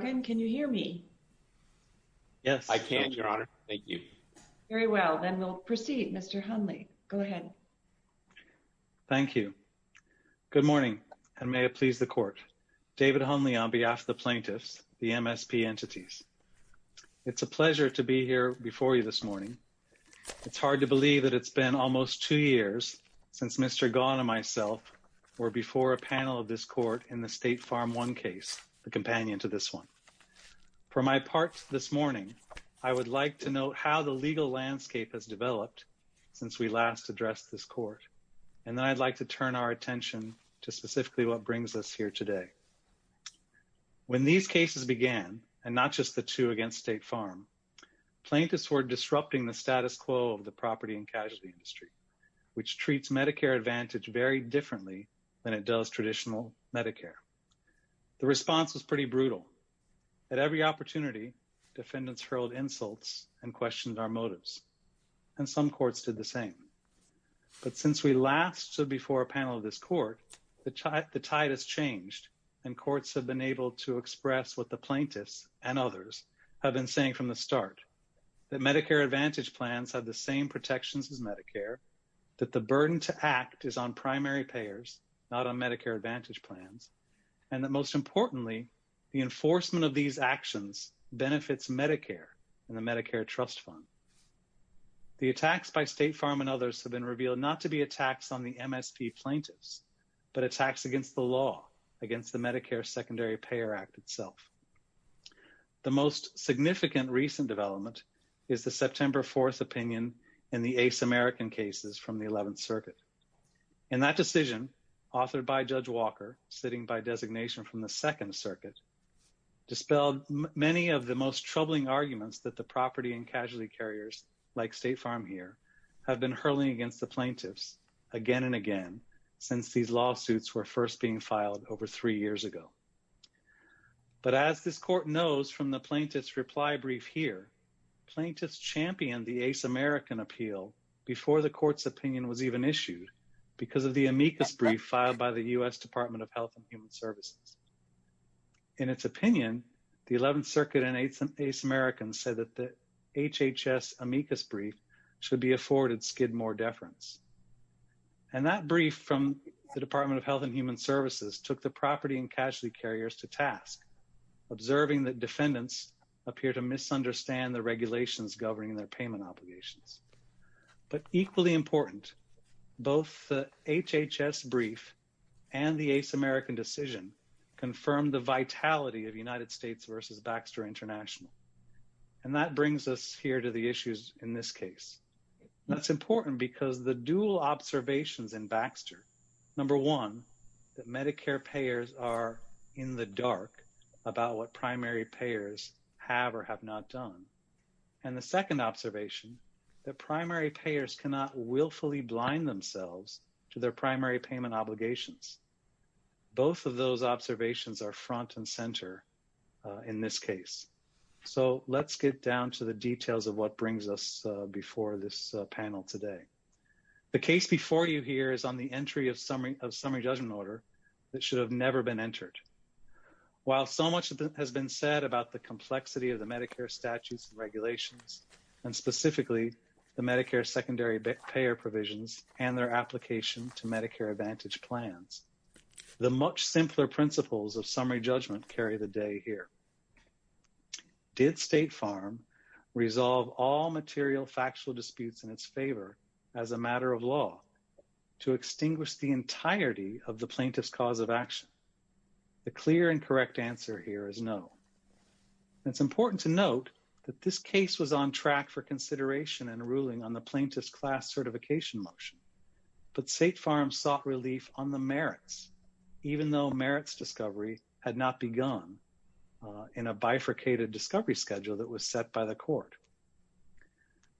David Hunley, Plaintiff's Office, MSP Entities, LLC For my part this morning, I would like to note how the legal landscape has developed since we last addressed this court, and then I'd like to turn our attention to specifically what brings us here today. When these cases began, and not just the two against State Farm, plaintiffs were disrupting the status quo of the property and casualty industry, which treats Medicare Advantage very differently than it does traditional Medicare. The response was pretty brutal. At every opportunity, defendants hurled insults and questioned our motives, and some courts did the same. But since we last stood before a panel of this court, the tide has changed, and courts have been able to express what the plaintiffs and others have been saying from the start, that Medicare Advantage plans have the same protections as Medicare, that the burden to act is on primary payers, not on Medicare Advantage plans, and that most importantly, the enforcement of these actions benefits Medicare and the Medicare Trust Fund. The attacks by State Farm and others have been revealed not to be attacks on the MSP plaintiffs, but attacks against the law, against the Medicare Secondary Payer Act itself. The most significant recent development is the September 4th opinion in the ace American cases from the 11th Circuit. And that decision, authored by Judge Walker, sitting by designation from the 2nd Circuit, dispelled many of the most troubling arguments that the property and casualty carriers, like State Farm here, have been hurling against the plaintiffs again and again, since these lawsuits were first being filed over three years ago. But as this court knows from the issue, because of the amicus brief filed by the U.S. Department of Health and Human Services. In its opinion, the 11th Circuit and ace Americans said that the HHS amicus brief should be afforded skid more deference. And that brief from the Department of Health and Human Services took the property and casualty carriers to task, observing that defendants appear to misunderstand the regulations governing their payment obligations. But equally important, both the HHS brief and the ace American decision confirmed the vitality of United States versus Baxter International. And that brings us here to the issues in this case. That's important because the dual observations in Baxter, number one, that Medicare payers are in the dark about what primary payers have or have not done. And the second observation, that primary payers cannot willfully blind themselves to their primary payment obligations. Both of those observations are front and center in this case. So, let's get down to the details of what brings us before this panel today. The case before you here is on the entry of summary judgment order that should have never been entered. While so much has been said about the complexity of the Medicare statutes and regulations, and specifically the Medicare secondary payer provisions and their application to Medicare Advantage plans, the much simpler principles of summary judgment carry the day here. Did State Farm resolve all material factual disputes in its favor as a matter of law to extinguish the entirety of the plaintiff's cause of action? The clear and correct answer here is no. It's important to note that this case was on track for consideration and ruling on the plaintiff's class certification motion, but State Farm sought relief on the merits, even though merits discovery had not begun in a bifurcated discovery schedule that was set by the court.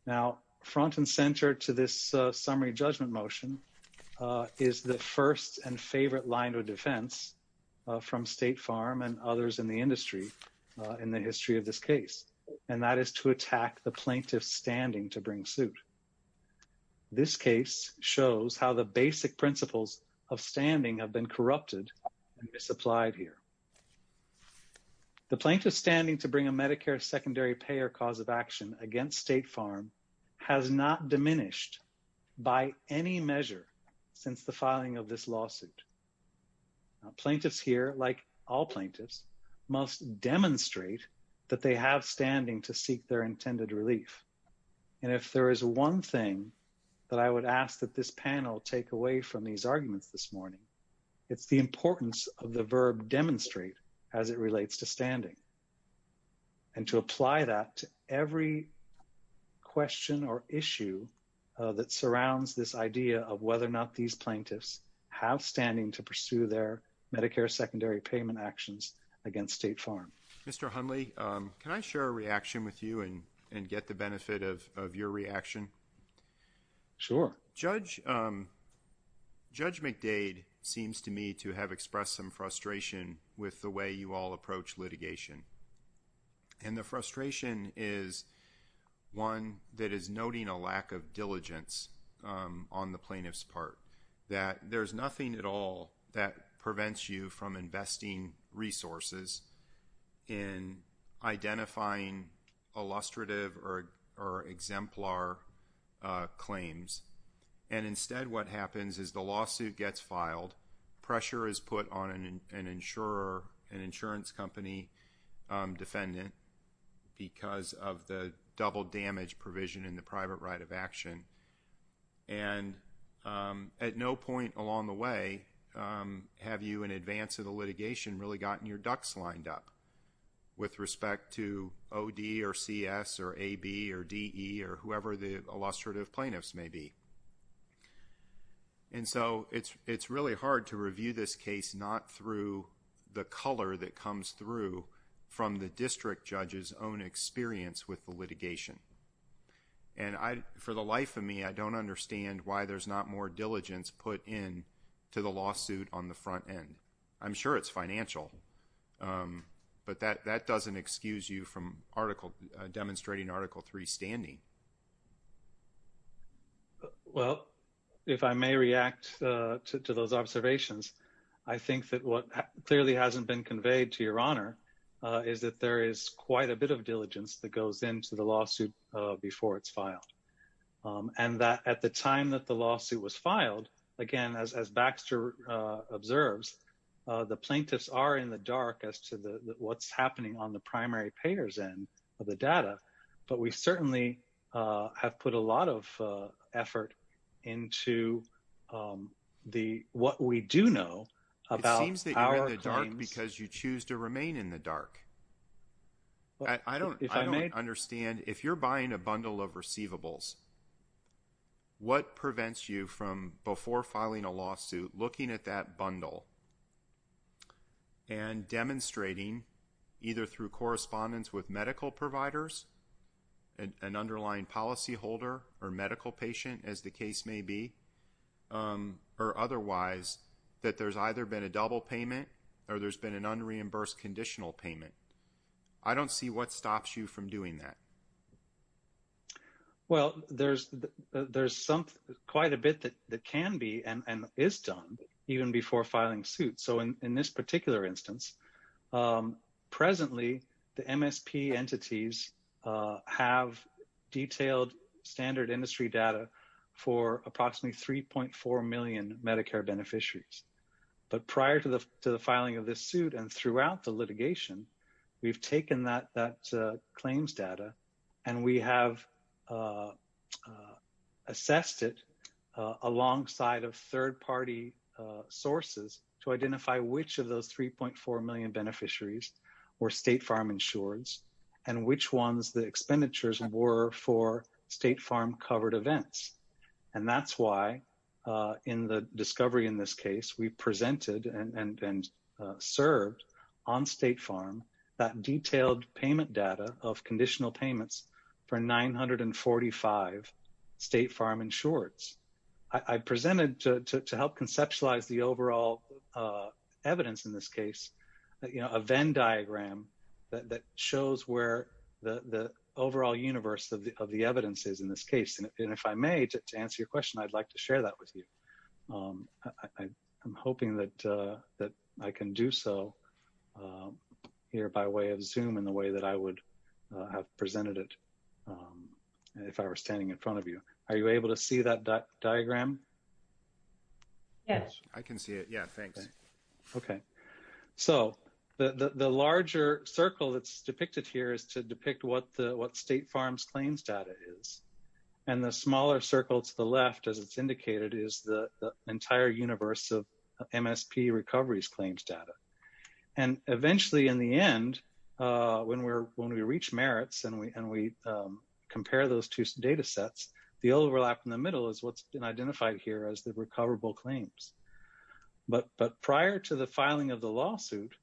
Now, front and center to this summary judgment motion is the first and favorite line of defense from State Farm and others in the industry in the history of this case, and that is to attack the plaintiff's standing to bring suit. This case shows how the basic principles of standing have been corrupted and misapplied here. The plaintiff's standing to bring a Medicare secondary payer cause of action against State Farm has not diminished by any measure since the filing of this lawsuit. Plaintiffs here, like all plaintiffs, must demonstrate that they have standing to seek their intended relief. And if there is one thing that I would ask that this panel take away from these arguments this relates to standing and to apply that to every question or issue that surrounds this idea of whether or not these plaintiffs have standing to pursue their Medicare secondary payment actions against State Farm. Mr. Hundley, can I share a reaction with you and get the benefit of your reaction? Sure. Judge McDade seems to me to have expressed some frustration with the way you all approach litigation. And the frustration is one that is noting a lack of diligence on the plaintiff's part, that there's nothing at all that prevents you from investing resources in identifying illustrative or exemplar claims. And instead what happens is the lawsuit gets filed, pressure is put on an insurer, an insurance company defendant because of the double damage provision in the private right of action. And at no point along the way have you in advance of the or C.S. or A.B. or D.E. or whoever the illustrative plaintiffs may be. And so it's really hard to review this case not through the color that comes through from the district judge's own experience with the litigation. And for the life of me, I don't understand why there's not more diligence put in to the lawsuit on the front end. I'm sure it's demonstrating Article III standing. Well, if I may react to those observations, I think that what clearly hasn't been conveyed to your honor is that there is quite a bit of diligence that goes into the lawsuit before it's filed. And that at the time that the lawsuit was filed, again, as Baxter observes, the plaintiffs are in the dark as to what's happening on the data. But we certainly have put a lot of effort into what we do know about our claims. It seems that you're in the dark because you choose to remain in the dark. I don't understand. If you're buying a bundle of receivables, what prevents you from before filing a lawsuit, looking at that bundle and demonstrating either through correspondence with medical providers, an underlying policyholder or medical patient, as the case may be, or otherwise, that there's either been a double payment or there's been an unreimbursed conditional payment. I don't see what stops you from doing that. Well, there's quite a bit that can be and is done even before filing suit. So, in this particular instance, presently, the MSP entities have detailed standard industry data for approximately 3.4 million Medicare beneficiaries. But prior to the filing of this suit and throughout the we have assessed it alongside of third-party sources to identify which of those 3.4 million beneficiaries were State Farm insured and which ones the expenditures were for State Farm covered events. And that's why in the discovery in this case, we presented and served on State Farm that detailed payment data of conditional payments for 945 State Farm insureds. I presented to help conceptualize the overall evidence in this case, a Venn diagram that shows where the overall universe of the evidence is in this case. And if I may, to answer your question, I'd like to share that with you. I'm hoping that I can do so here by way of Zoom in the way that I would have presented it if I were standing in front of you. Are you able to see that diagram? Yes. I can see it. Yeah, thanks. Okay. So, the larger circle that's depicted here is to depict what State Farm's claims data is. And the smaller circle to the left, as it's indicated, is the entire universe of MSP recoveries claims data. And eventually, in the end, when we reach merits and we compare those two data sets, the overlap in the middle is what's been identified here as the recoverable claims. But prior to the filing of the lawsuit,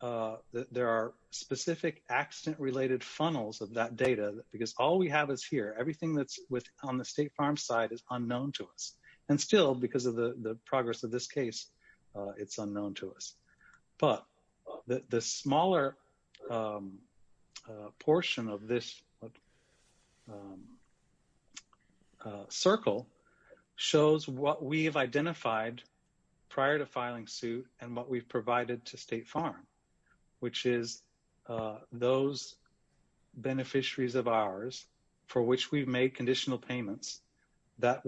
there are specific accident-related funnels of data because all we have is here. Everything that's on the State Farm side is unknown to us. And still, because of the progress of this case, it's unknown to us. But the smaller portion of this circle shows what we've identified prior to filing suit and what we've provided to State Farm, which is those beneficiaries of ours for which we've made conditional payments that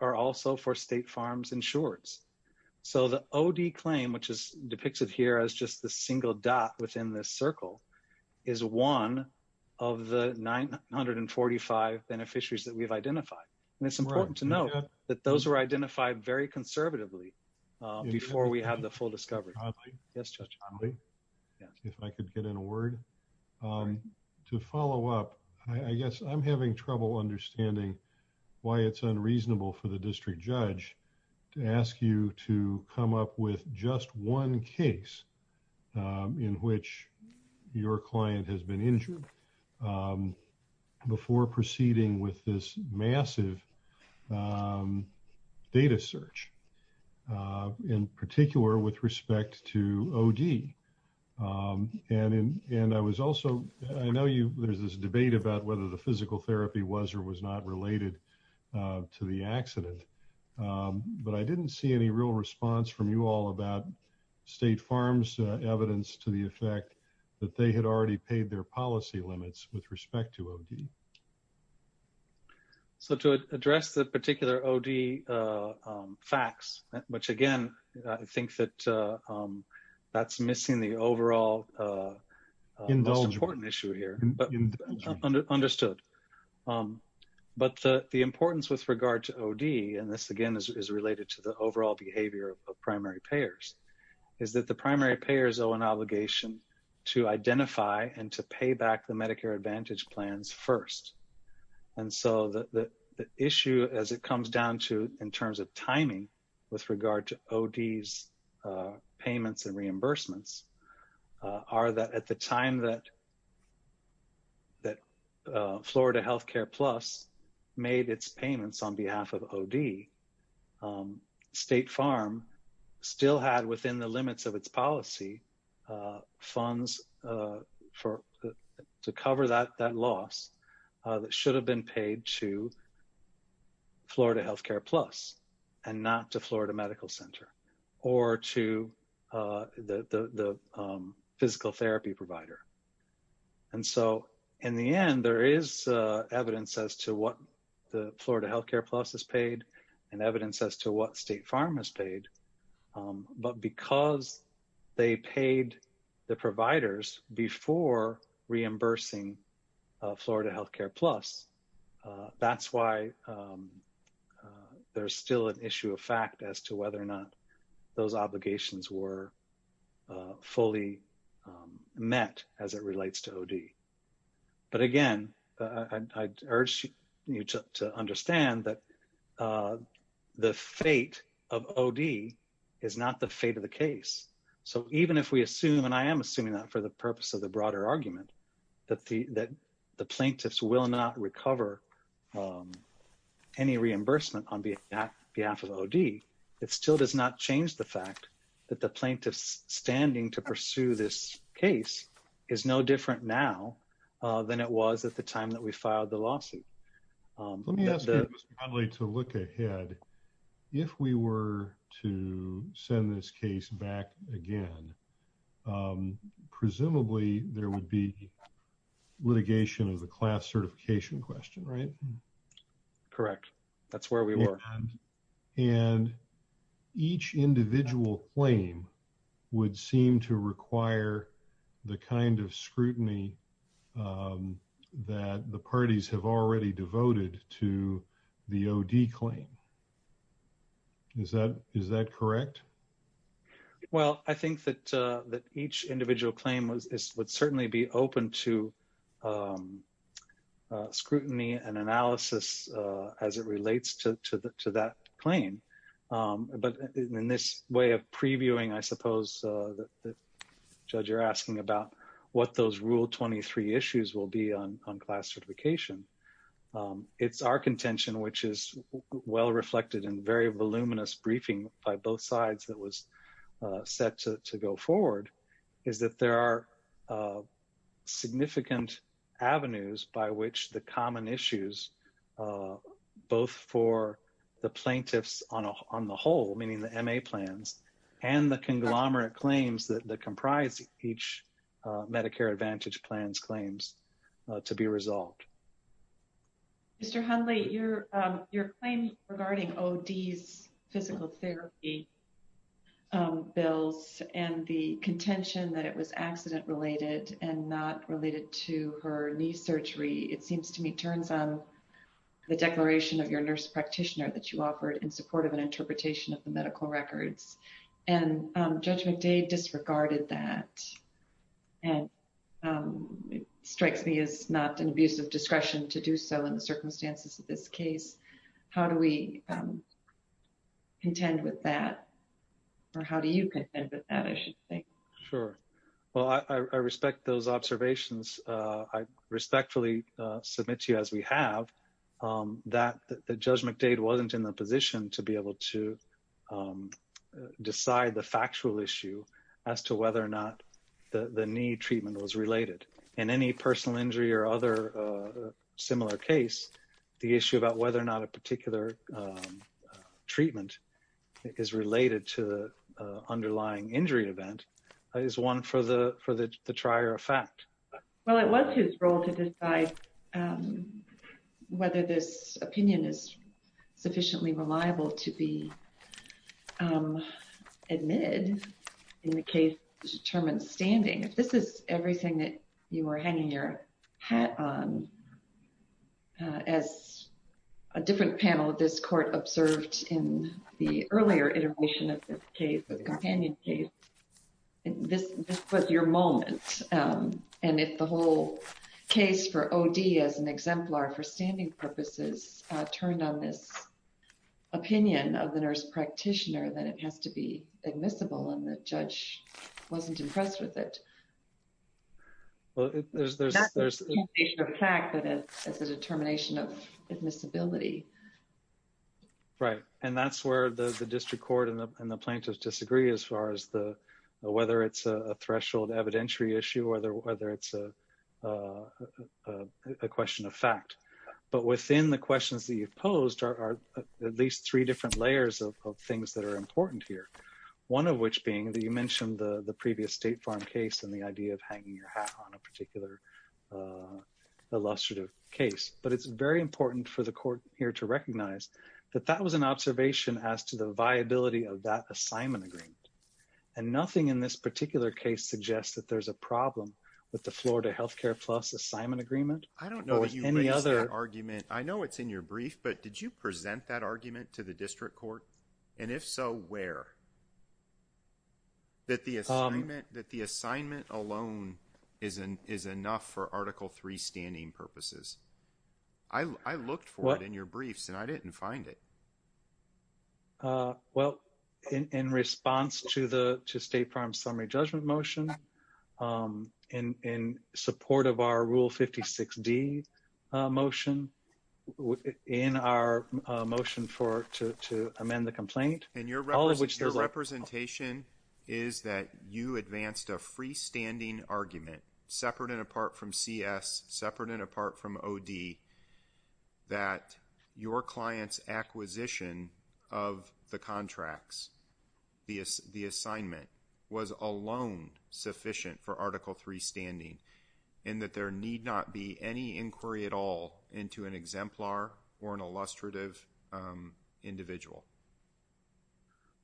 are also for State Farm's insureds. So, the OD claim, which is depicted here as just the single dot within this circle, is one of the 945 beneficiaries that we've identified. And it's important to that those were identified very conservatively before we had the full discovery. If I could get in a word. To follow up, I guess I'm having trouble understanding why it's unreasonable for the district judge to ask you to come up with just one case in which your client has been injured before proceeding with this massive data search, in particular with respect to OD. And I was also, I know there's this debate about whether the physical therapy was or was not related to the accident. But I didn't see any real response from you all about State Farm's evidence to the effect that they had already paid their policy limits with respect to OD. So, to address the particular OD facts, which again, I think that that's missing the overall most important issue here, but understood. But the importance with regard to OD, and this again is related to the overall behavior of payback the Medicare Advantage plans first. And so, the issue as it comes down to, in terms of timing, with regard to OD's payments and reimbursements, are that at the time that Florida Healthcare Plus made its payments on behalf of OD, State Farm still had within the cover that loss that should have been paid to Florida Healthcare Plus and not to Florida Medical Center or to the physical therapy provider. And so, in the end, there is evidence as to what the Florida Healthcare Plus has paid and evidence as to what State Farm has paid. But because they paid the providers before reimbursing Florida Healthcare Plus, that's why there's still an issue of fact as to whether or not those obligations were fully met as it relates to OD. But again, I urge you to understand that the fate of OD is not the fate of the case. So, even if we assume, and I am assuming that for the purpose of the broader argument, that the plaintiffs will not recover any reimbursement on behalf of OD, it still does not change the fact that the plaintiffs standing to pursue this case is no different now than it was at the time that we filed the lawsuit. Let me ask you, Mr. Connolly, to look ahead. If we were to send this case back again, presumably there would be litigation of the class certification question, right? Correct. That's where we were. And each individual claim would seem to require the kind of scrutiny that the parties have already devoted to the OD claim. Is that correct? Well, I think that each individual claim would certainly be open to scrutiny and analysis as it relates to that claim. But in this way of previewing, I suppose, the judge, you're asking about what those rule 23 issues will be on class certification. It's our contention, which is well reflected in very voluminous briefing by both sides that was set to go forward, is that there are significant avenues by which the common issues, both for the plaintiffs on the whole, meaning the MA plans, and the conglomerate claims that comprise each Medicare Advantage plans claims to be resolved. Mr. Hundley, your claim regarding OD's physical therapy bills and the contention that it was the declaration of your nurse practitioner that you offered in support of an interpretation of the medical records. And Judge McDade disregarded that, and it strikes me as not an abuse of discretion to do so in the circumstances of this case. How do we contend with that? Or how do you contend with that, I should think? Sure. Well, I respect those observations. I respectfully submit to you, as we have, that Judge McDade wasn't in the position to be able to decide the factual issue as to whether or not the need treatment was related. In any personal injury or other similar case, the issue about whether or not a particular treatment is related to the underlying injury event is one for the trier of fact. Well, it was his role to decide whether this opinion is sufficiently reliable to be admitted in the case to determine standing. If this is everything that you were hanging your hat on, as a different panel of this court observed in the earlier iteration of this case, the companion case, this was your moment. And if the whole case for OD as an exemplar for standing purposes turned on this opinion of the nurse practitioner, then it has to be admissible, and the judge wasn't impressed with it. Well, there's... It's a determination of admissibility. Right. And that's where the district court and the plaintiffs disagree as far as whether it's a threshold evidentiary issue or whether it's a question of fact. But within the questions that you've posed are at least three different layers of things that are important here. One of which being that you mentioned the previous State Farm case and the idea of hanging your hat on a particular illustrative case. But it's very important for the court here to recognize that that was an observation as to the viability of that assignment agreement. And nothing in this particular case suggests that there's a problem with the Florida Healthcare Plus assignment agreement or any other... I don't know that you raised that argument. I know it's in your brief, but did you present that argument to the district court? And if so, where? That the assignment alone is enough for Article III standing purposes. I looked for it in your briefs and I didn't find it. Well, in response to State Farm's summary judgment motion, in support of our Rule 56D motion, in our motion to amend the complaint, your representation is that you advanced a freestanding argument, separate and apart from CS, separate and apart from OD, that your client's acquisition of the contracts, the assignment, was alone sufficient for Article III standing. And that there need not be any inquiry at all into an exemplar or an illustrative individual.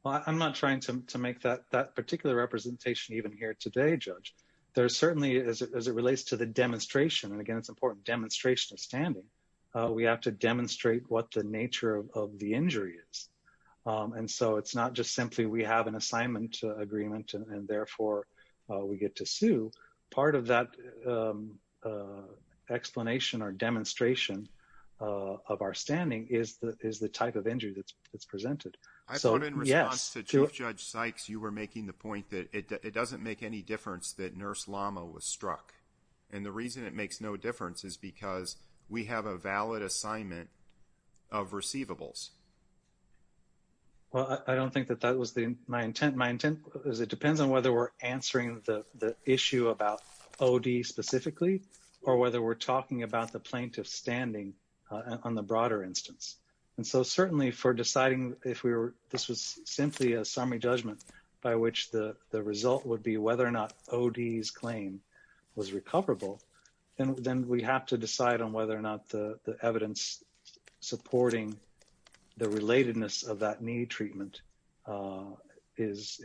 Well, I'm not trying to make that particular representation even here today, Judge. There's certainly, as it relates to the demonstration, and again, it's important, demonstration of standing, we have to demonstrate what the nature of the injury is. And so it's not just simply we have an assignment agreement and therefore we get to sue. Part of that explanation or demonstration of our standing is the type of injury that's presented. I put in response to Chief Judge Sykes, you were making the point that it doesn't make any difference that Nurse Lama was struck. And the reason it makes no difference is because we have a valid assignment of receivables. Well, I don't think that that was my intent. My intent is it depends on whether we're answering the issue about OD specifically, or whether we're talking about the plaintiff standing on the broader instance. And so certainly for deciding if this was simply a summary judgment by which the result would be whether or not OD's claim was recoverable, then we have to decide on whether or not the evidence supporting the relatedness of that need treatment is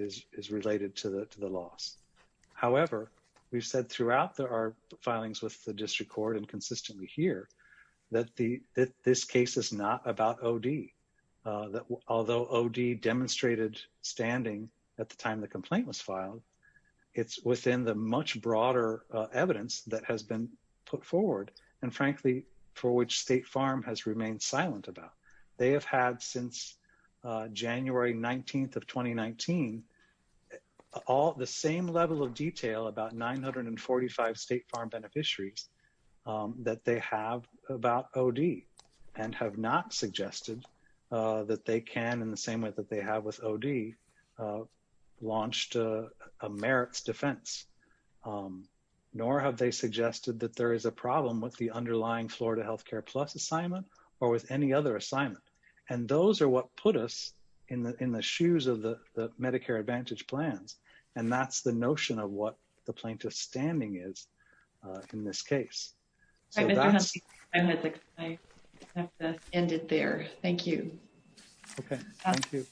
related to the loss. However, we've said throughout our filings with the district court and consistently here that this case is not about OD. Although OD demonstrated standing at the time the complaint was filed, it's within the much broader evidence that has been put forward, and frankly, for which State Farm has remained silent about. They have had since January 19th of 2019, the same level of detail about 945 State Farm beneficiaries that they have about OD and have not suggested that they can, in the same way that they have with OD, launched a merits defense. Nor have they suggested that there is a problem with the underlying Florida Healthcare Plus assignment or with any other assignment. And those are what put us in the shoes of the Medicare Advantage plans. And that's the notion of what the plaintiff's standing is in this case. All right, Mr. Hunt, I have to end it there. Thank you. Okay, thank you.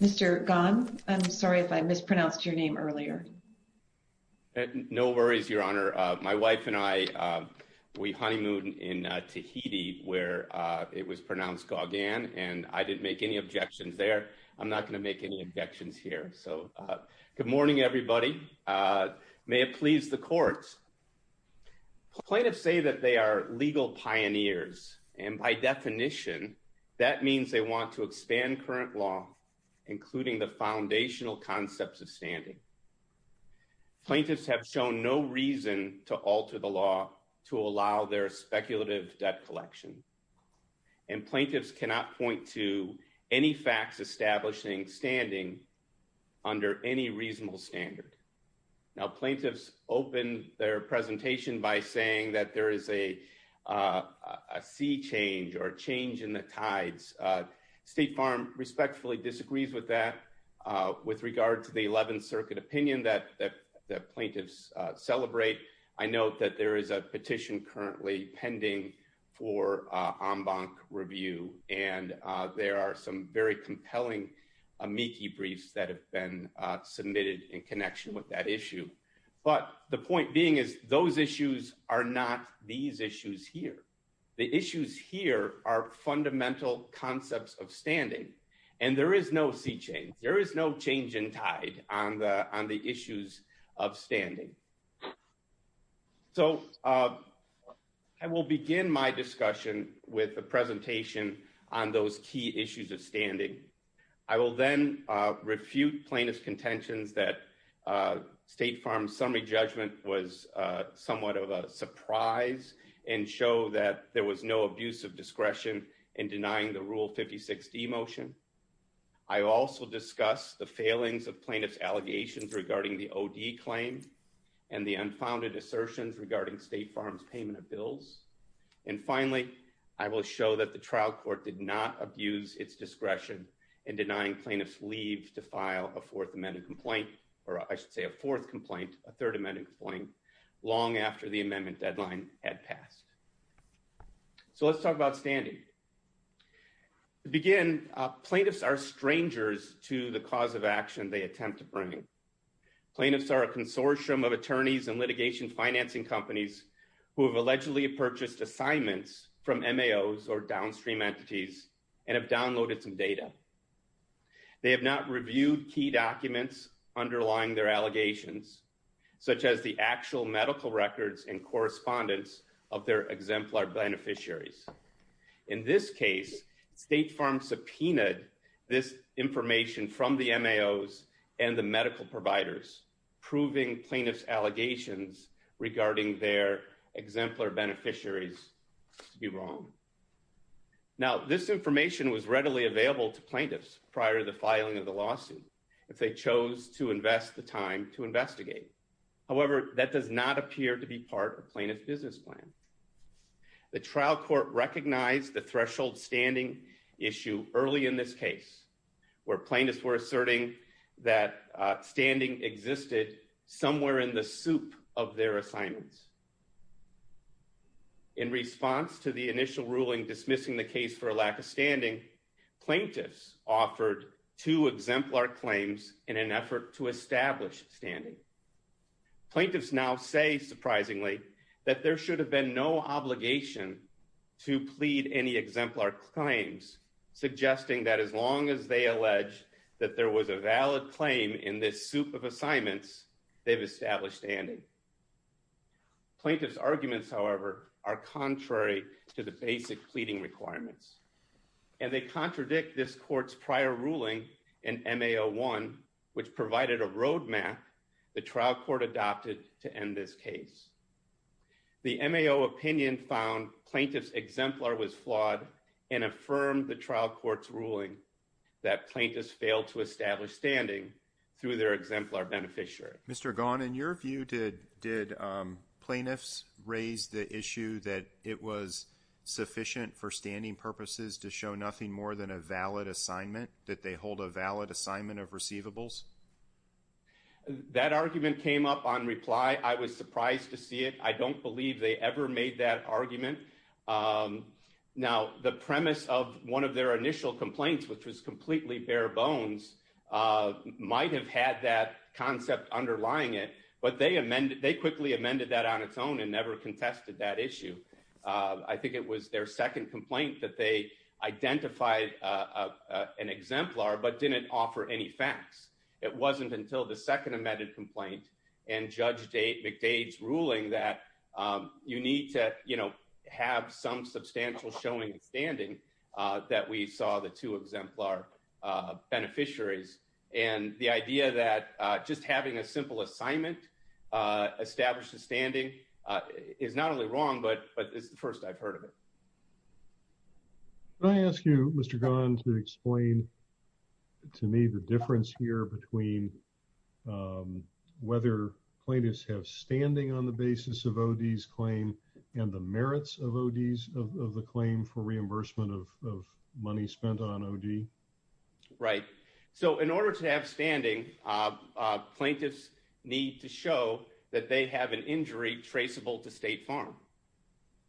Mr. Gan, I'm sorry if I mispronounced your name earlier. No worries, Your Honor. My wife and I, we honeymooned in Tahiti where it was pronounced Gauguin, and I didn't make any objections there. I'm not going to make any objections here. So good morning, everybody. May it please the courts. Plaintiffs say that they are legal pioneers. And by definition, that means they want to expand current law, including the foundational concepts of standing. Plaintiffs have shown no reason to alter the law to allow their speculative debt collection. And plaintiffs cannot point to any facts establishing standing under any reasonable standard. Now, plaintiffs open their presentation by saying that there is a sea change or a change in the tides. State Farm respectfully disagrees with that. With regard to the 11th Circuit opinion that the plaintiffs celebrate, I note that there is a petition currently pending for en banc review, and there are some very compelling amici briefs that have been submitted in connection with that issue. But the point being is those issues are not these issues here. The issues here are fundamental concepts of standing. And there is no sea change. There is no change in tide on the issues of standing. So I will begin my discussion with the presentation on those key issues of standing. I will then refute plaintiff's contentions that State Farm's summary judgment was somewhat of a surprise and show that there was no abuse of discretion in denying the Rule 56D motion. I also discuss the failings of plaintiff's allegations regarding the OD claim and the unfounded assertions regarding State Farm's payment of bills. And finally, I will show that the trial court did not abuse its discretion in denying plaintiffs leave to file a fourth amendment complaint, or I should say a fourth complaint, a third amendment complaint, long after the amendment deadline had passed. So let's talk about standing. Again, plaintiffs are strangers to the cause of action they attempt to bring. Plaintiffs are a consortium of attorneys and litigation financing companies who have allegedly purchased assignments from MAOs or downstream entities and have downloaded some data. They have not reviewed key documents underlying their allegations, such as the actual medical records and correspondence of their exemplar beneficiaries. In this case, State Farm subpoenaed this information from the MAOs and the medical providers, proving plaintiff's allegations regarding their exemplar beneficiaries to be wrong. Now, this information was readily available to plaintiffs prior to the filing of the lawsuit if they chose to invest the time to investigate. However, that does not appear to be part of plaintiff's business plan. The trial court recognized the threshold standing issue early in this case, where plaintiffs were asserting that standing existed somewhere in the soup of their assignments. In response to the initial ruling dismissing the case for a lack of standing, plaintiffs offered two exemplar claims in an effort to establish standing. Plaintiffs now say, surprisingly, that there should have been no obligation to plead any exemplar claims, suggesting that as long as they allege that there was a valid claim in this soup of assignments, they've established standing. Plaintiffs' arguments, however, are contrary to the basic pleading requirements, and they contradict this court's prior ruling in MAO 1, which provided a roadmap the trial court adopted to end this case. The MAO opinion found plaintiff's exemplar was flawed and affirmed the trial court's ruling that plaintiffs failed to establish standing through their exemplar beneficiary. Mr. Gaughan, in your view, did plaintiffs raise the issue that it was sufficient for standing purposes to show nothing more than a valid assignment, that they hold a valid assignment of receivables? That argument came up on reply. I was surprised to see it. I don't believe they ever made that argument. Now, the premise of one of their initial complaints, which was completely bare bones, might have had that concept underlying it, but they quickly amended that on its own and never contested that issue. I think it was their second complaint that they identified an exemplar but didn't offer any facts. It wasn't until the second amended complaint and Judge McDade's ruling that you need to, you know, have some substantial showing standing that we saw the two exemplar beneficiaries. And the idea that just having a simple assignment establishes standing is not only wrong, but it's the first I've heard of it. Can I ask you, Mr. Gaughan, to explain to me the difference here between whether plaintiffs have standing on the basis of OD's claim and the merits of OD's, of the claim for reimbursement of money spent on OD? Right. So in order to have standing, plaintiffs need to show that they have an injury traceable to State Farm.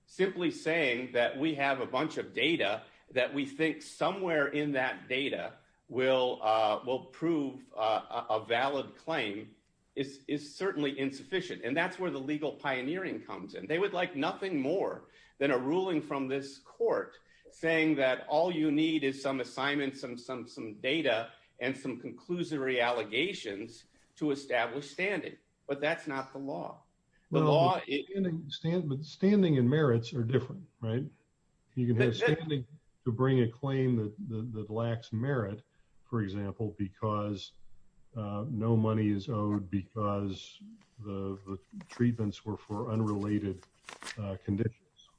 Simply saying that we have a bunch of data, that we think somewhere in that data will prove a valid claim is certainly insufficient. And that's where the legal pioneering comes in. They would like nothing more than a ruling from this court saying that all you need is some assignments and some data and some conclusory allegations to establish standing, but that's not the law. But standing and merits are different, right? You can have standing to bring a claim that lacks merit, for example, because no money is owed because the treatments were for unrelated conditions,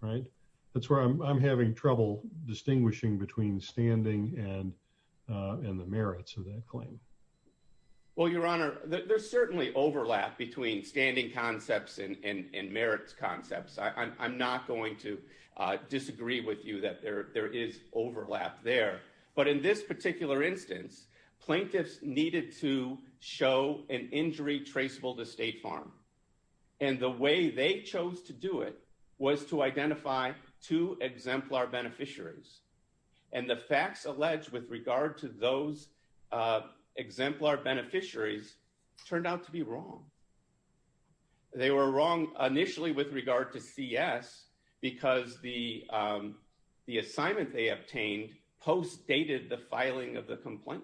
right? That's where I'm having trouble distinguishing between standing and the merits of that claim. Well, Your Honor, there's certainly overlap between standing concepts and merits concepts. I'm not going to disagree with you that there is overlap there. But in this particular instance, plaintiffs needed to show an injury traceable to State Farm. And the way they chose to do it was to identify two exemplar beneficiaries. And the facts alleged with regard to those exemplar beneficiaries turned out to be wrong. They were wrong initially with regard to CS because the assignment they obtained post dated the filing of the complaint.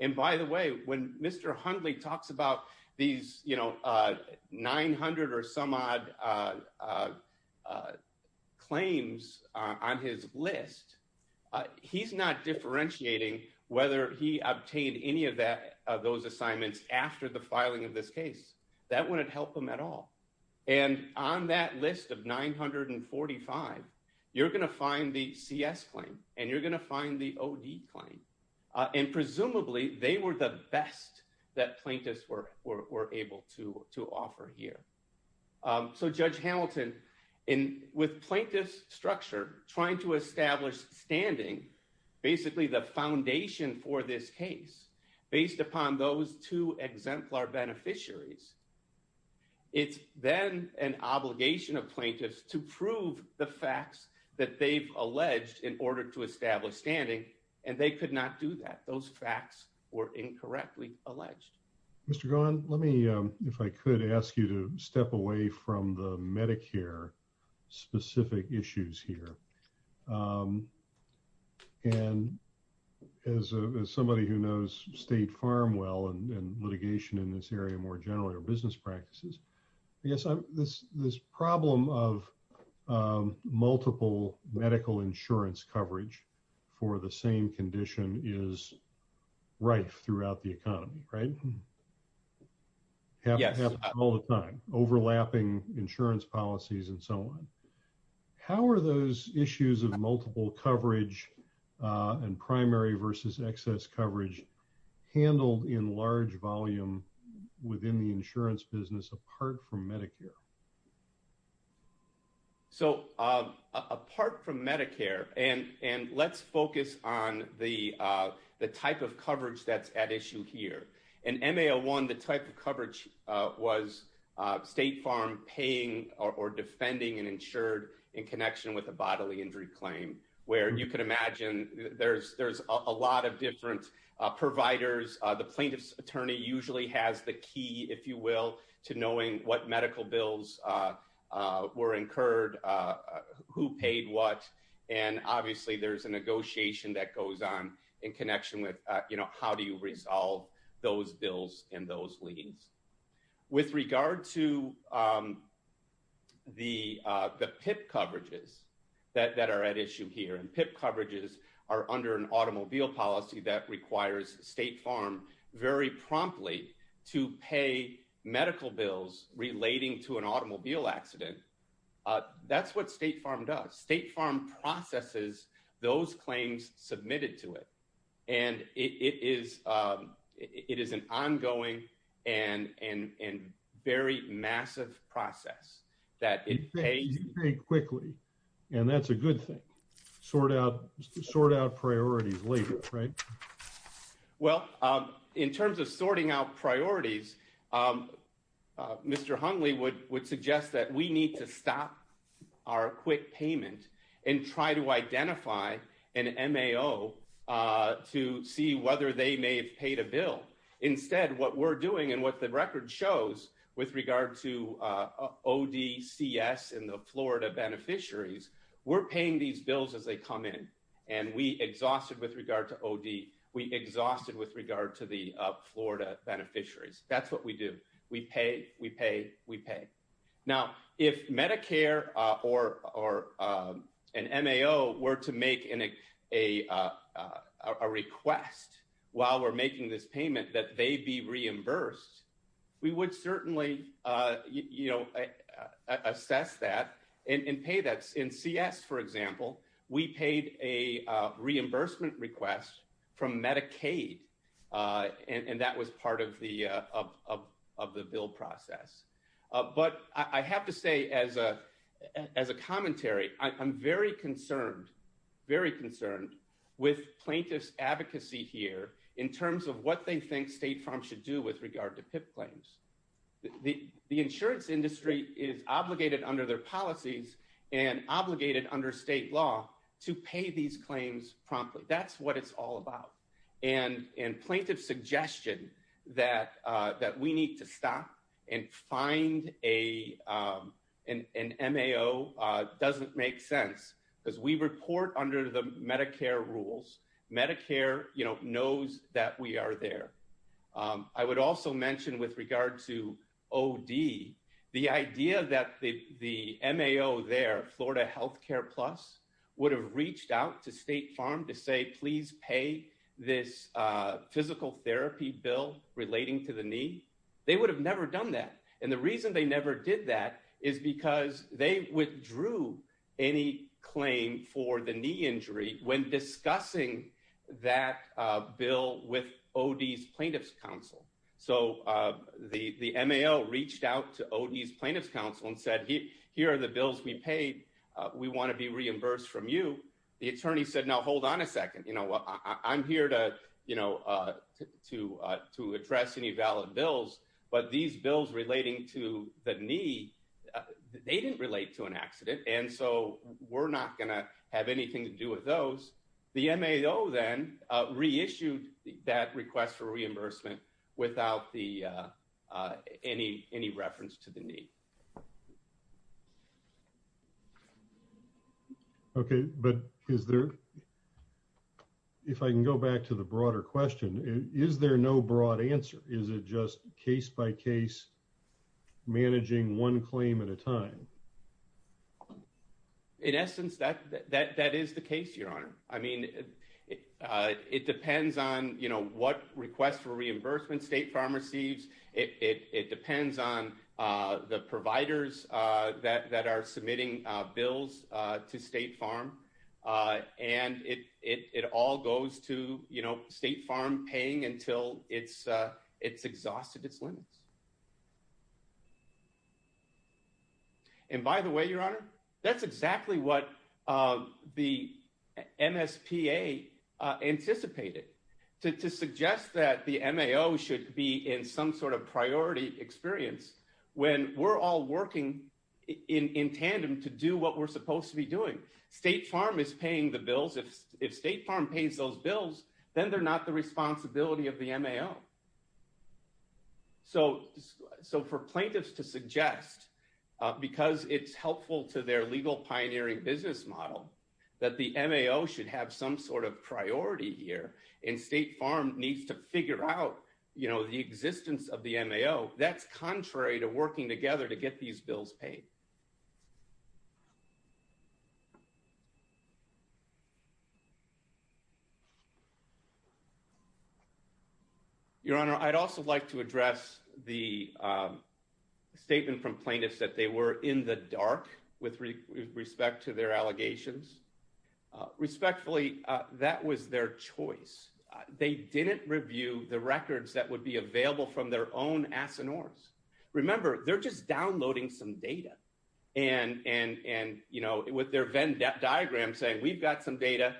And by the way, when Mr. Hundley talks about these, you know, 900 or some odd claims on his list, he's not differentiating whether he obtained any of those assignments after the filing of this case. That wouldn't help him at all. And on that list of 945, you're going to find the CS claim and you're going to find the OD claim. And presumably, they were the best that plaintiffs were able to offer here. So Judge Hamilton, with plaintiff's structure, trying to establish standing, basically the foundation for this case based upon those two exemplar beneficiaries, it's then an obligation of plaintiffs to prove the facts that they've alleged in order to establish standing. And they could not do that. Those facts were incorrectly alleged. Mr. Gaughan, let me, if I could ask you to step away from the Medicare specific issues here. And as somebody who knows state farm well and litigation in this area more generally or business practices, I guess this problem of multiple medical insurance coverage for the same condition is rife throughout the economy, right? Yes, all the time, overlapping insurance policies and so on. How are those issues of multiple coverage and primary versus excess coverage handled in large volume within the insurance business apart from Medicare? So apart from Medicare, and let's focus on the type of coverage that's at issue here. In MA01, the type of coverage was state farm paying or defending an insured in connection with a bodily injury claim, where you can imagine there's a lot of different providers. The plaintiff's attorney usually has the key, if you will, to knowing what medical bills were incurred, who paid what. And obviously there's a negotiation that goes on in connection with how do you resolve those bills and those liens. With regard to the PIP coverages that are at issue here, and PIP coverages are under an automobile policy that requires state farm very promptly to pay medical bills relating to an automobile accident. That's what state farm does. State farm processes those claims submitted to it. And it is an ongoing and very massive process that it pays very quickly. And that's a good thing. Sort out priorities later, right? Well, in terms of sorting out priorities, Mr. Hungley would suggest that we need to stop our quick payment and try to identify an MAO to see whether they may have paid a bill. Instead, what we're doing and what the record shows with regard to ODCS and the Florida beneficiaries, we're paying these bills as they come in. And we exhausted with regard to OD, we exhausted with regard to the Florida beneficiaries. That's what we do. We pay, we pay, we pay. Now, if Medicare or an MAO were to make a request while we're making this payment that they be reimbursed, we would certainly assess that and pay that. In CS, for example, we paid a reimbursement request from Medicaid. And that was part of the bill process. But I have to say as a commentary, I'm very concerned, very concerned with plaintiff's advocacy here in terms of what they think state farm should do with regard to PIP claims. The insurance industry is obligated under their and plaintiff's suggestion that we need to stop and find an MAO doesn't make sense because we report under the Medicare rules. Medicare knows that we are there. I would also mention with regard to OD, the idea that the MAO there, Florida Healthcare Plus would have reached out to state farm to say, please pay this physical therapy bill relating to the knee. They would have never done that. And the reason they never did that is because they withdrew any claim for the knee injury when discussing that bill with OD's plaintiff's counsel. So the MAO reached out to OD's plaintiff's counsel and said, here are the bills we paid. We want to be reimbursed from you. The attorney said, now, hold on a second. I'm here to address any valid bills, but these bills relating to the knee, they didn't relate to an accident. And so we're not going to have anything to do with those. The MAO then reissued that request for reimbursement without any reference to the knee. Okay. But is there, if I can go back to the broader question, is there no broad answer? Is it just case by case managing one claim at a time? In essence, that is the case, Your Honor. I mean, it depends on, you know, what request for providers that are submitting bills to State Farm. And it all goes to, you know, State Farm paying until it's exhausted its limits. And by the way, Your Honor, that's exactly what the MSPA anticipated. To suggest that the MAO should be in some sort of priority experience when we're all working in tandem to do what we're supposed to be doing. State Farm is paying the bills. If State Farm pays those bills, then they're not the responsibility of the MAO. So for plaintiffs to suggest, because it's helpful to their legal pioneering business model, that the MAO should have some priority here and State Farm needs to figure out the existence of the MAO, that's contrary to working together to get these bills paid. Your Honor, I'd also like to address the statement from plaintiffs that they were in the dark with respect to their allegations. Respectfully, that was their choice. They didn't review the records that would be available from their own ass and oars. Remember, they're just downloading some data. And, you know, with their Venn diagram saying we've got some data,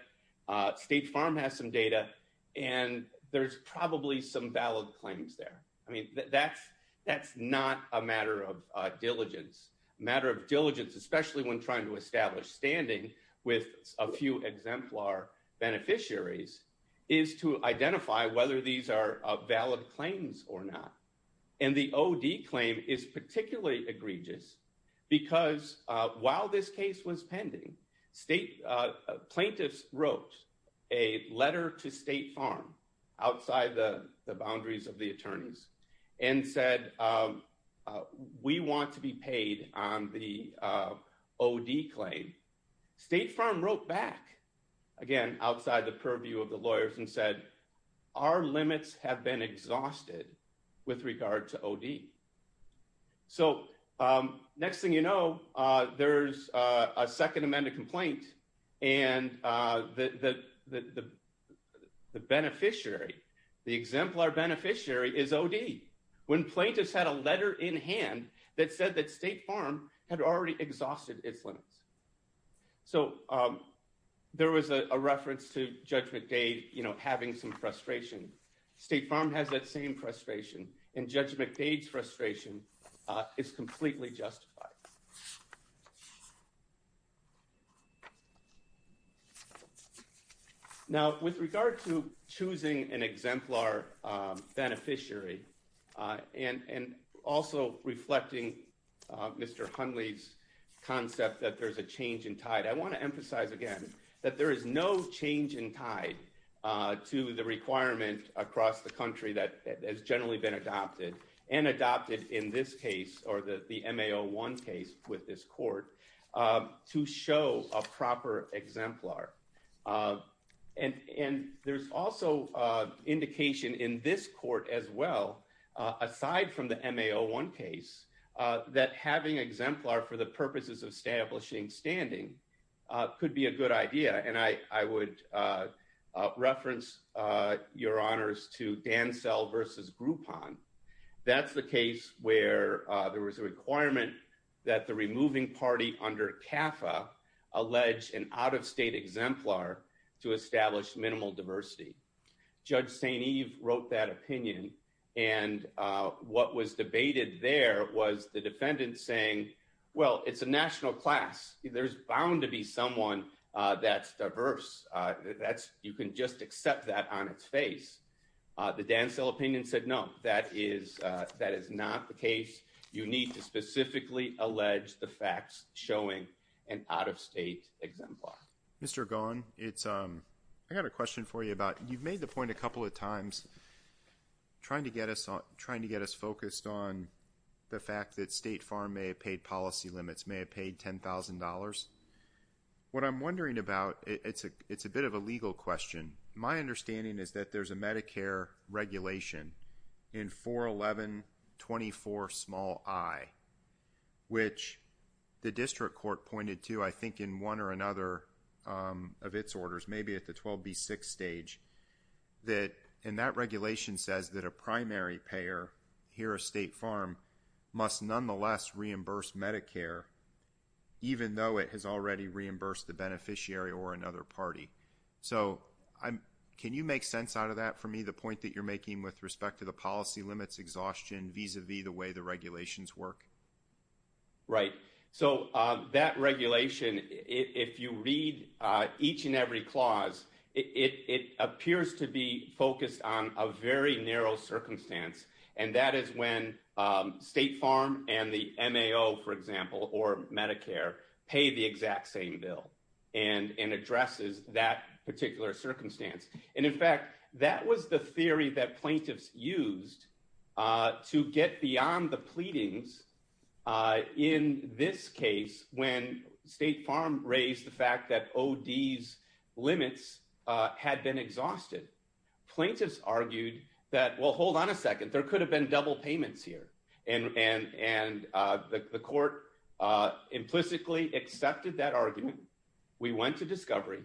State Farm has some data, and there's probably some valid claims there. I mean, that's not a matter of diligence. A matter of diligence, especially when trying to establish standing with a few exemplar beneficiaries, is to identify whether these are valid claims or not. And the OD claim is particularly egregious because while this case was pending, plaintiffs wrote a letter to State Farm outside the boundaries of the attorneys and said, we want to be paid on the OD claim. State Farm wrote back, again, outside the purview of the lawyers and said, our limits have been exhausted with regard to OD. So next thing you know, there's a second beneficiary. The exemplar beneficiary is OD when plaintiffs had a letter in hand that said that State Farm had already exhausted its limits. So there was a reference to Judge McDade, you know, having some frustration. State Farm has that same frustration, and Judge McDade's frustration is completely justified. Now, with regard to choosing an exemplar beneficiary and also reflecting Mr. Hunley's concept that there's a change in tide, I want to emphasize again that there is no change in tide to the requirement across the country that has generally been adopted, and adopted in this case, or the MA01 case with this court, to show a proper exemplar. And there's also indication in this court as well, aside from the MA01 case, that having exemplar for the purposes of establishing standing could be a good idea. And I would reference your honors to Dansell versus Groupon. That's the case where there was a requirement that the removing party under CAFA allege an out-of-state exemplar to establish minimal diversity. Judge St. Eve wrote that opinion, and what was debated there was the defendant saying, well, it's a national class. There's bound to be someone that's diverse. You can just accept that on its face. The Dansell opinion said, no, that is not the case. You need to specifically allege the facts showing an out-of-state exemplar. Mr. Gone, I got a question for you about, you've made the point a couple of times, trying to get us focused on the fact that State Farm may have paid policy limits, may have paid $10,000. What I'm wondering about, it's a bit of a legal question. My understanding is that there's a Medicare regulation in 41124i, which the district court pointed to, I think, in one or another of its orders, maybe at the 12B6 stage, and that regulation says that a primary payer, here at State Farm, must nonetheless reimburse Medicare, even though it has already reimbursed the beneficiary or another party. So can you make sense out of that for me, the point that you're making with respect to the policy limits exhaustion vis-a-vis the way the regulations work? Right. So that regulation, if you read each and every clause, it appears to be focused on a very narrow circumstance, and that is when State Farm and the MAO, for example, or Medicare, pay the exact same bill and addresses that particular circumstance. And in fact, that was the theory that plaintiffs used to get beyond the pleadings in this case, when State Plaintiffs argued that, well, hold on a second, there could have been double payments here. And the court implicitly accepted that argument. We went to discovery.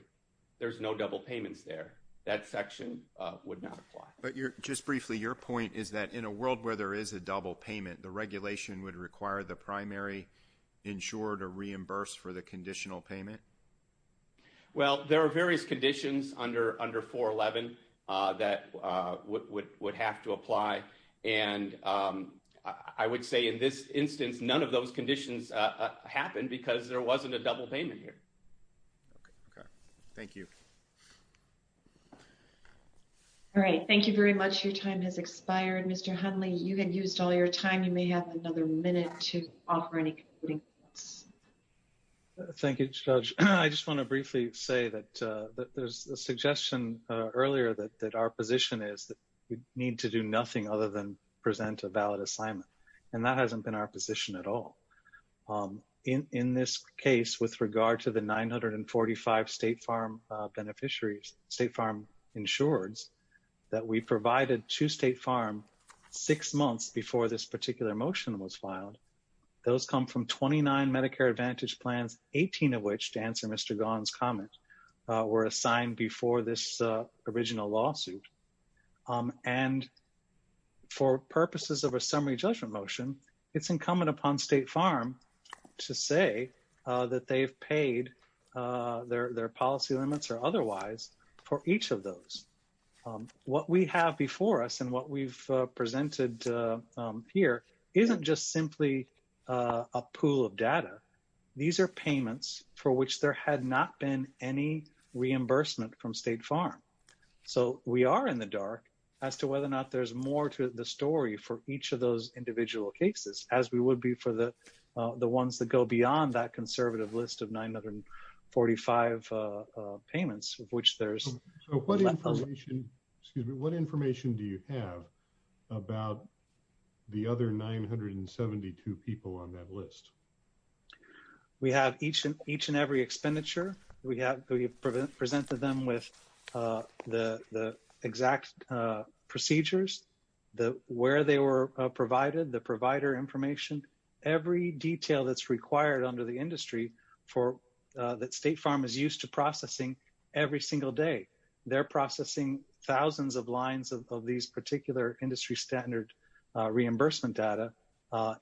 There's no double payments there. That section would not apply. But just briefly, your point is that in a world where there is a double payment, the regulation would require the primary insurer to reimburse for the that would have to apply. And I would say in this instance, none of those conditions happened because there wasn't a double payment here. Okay. Okay. Thank you. All right. Thank you very much. Your time has expired. Mr. Hundley, you had used all your time. You may have another minute to offer any concluding thoughts. Thank you, Judge. I just want to briefly say that there's a suggestion earlier that our position is that we need to do nothing other than present a valid assignment. And that hasn't been our position at all. In this case, with regard to the 945 State Farm beneficiaries, State Farm insureds, that we provided to State Farm six months before this particular motion was filed. Those come from 29 Medicare Advantage plans, 18 of which, to answer Mr. Gaughan's comment, were assigned before this original lawsuit. And for purposes of a summary judgment motion, it's incumbent upon State Farm to say that they've paid their policy limits or otherwise for each of those. What we have before us and what we've for which there had not been any reimbursement from State Farm. So we are in the dark as to whether or not there's more to the story for each of those individual cases, as we would be for the ones that go beyond that conservative list of 945 payments of which there's... So what information, excuse me, what information do you have about the other 972 people on that list? We have each and every expenditure. We presented them with the exact procedures, where they were provided, the provider information, every detail that's required under the industry that State Farm is used to processing every single day. They're reimbursement data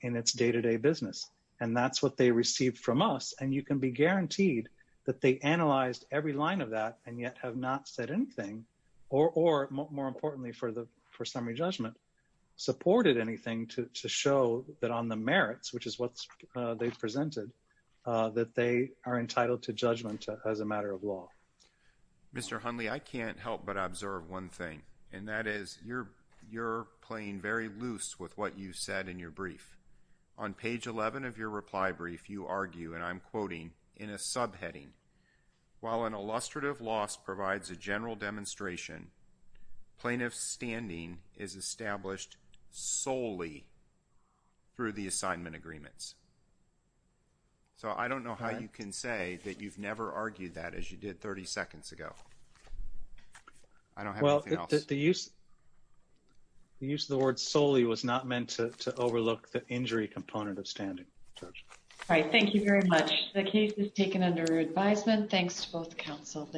in its day-to-day business. And that's what they received from us. And you can be guaranteed that they analyzed every line of that and yet have not said anything or, more importantly, for summary judgment, supported anything to show that on the merits, which is what they've presented, that they are entitled to judgment as a matter of law. Mr. Hundley, I can't help but observe one thing, and that is you're playing very loose with what you said in your brief. On page 11 of your reply brief, you argue, and I'm quoting, in a subheading, while an illustrative loss provides a general demonstration, plaintiff's standing is established solely through the assignment agreements. So I don't know how you can say that you've never argued that as you did 30 seconds ago. I don't have anything else. Well, the use of the word solely was not meant to overlook the injury component of standing. All right. Thank you very much. The case is taken under advisement. Thanks to both counsel.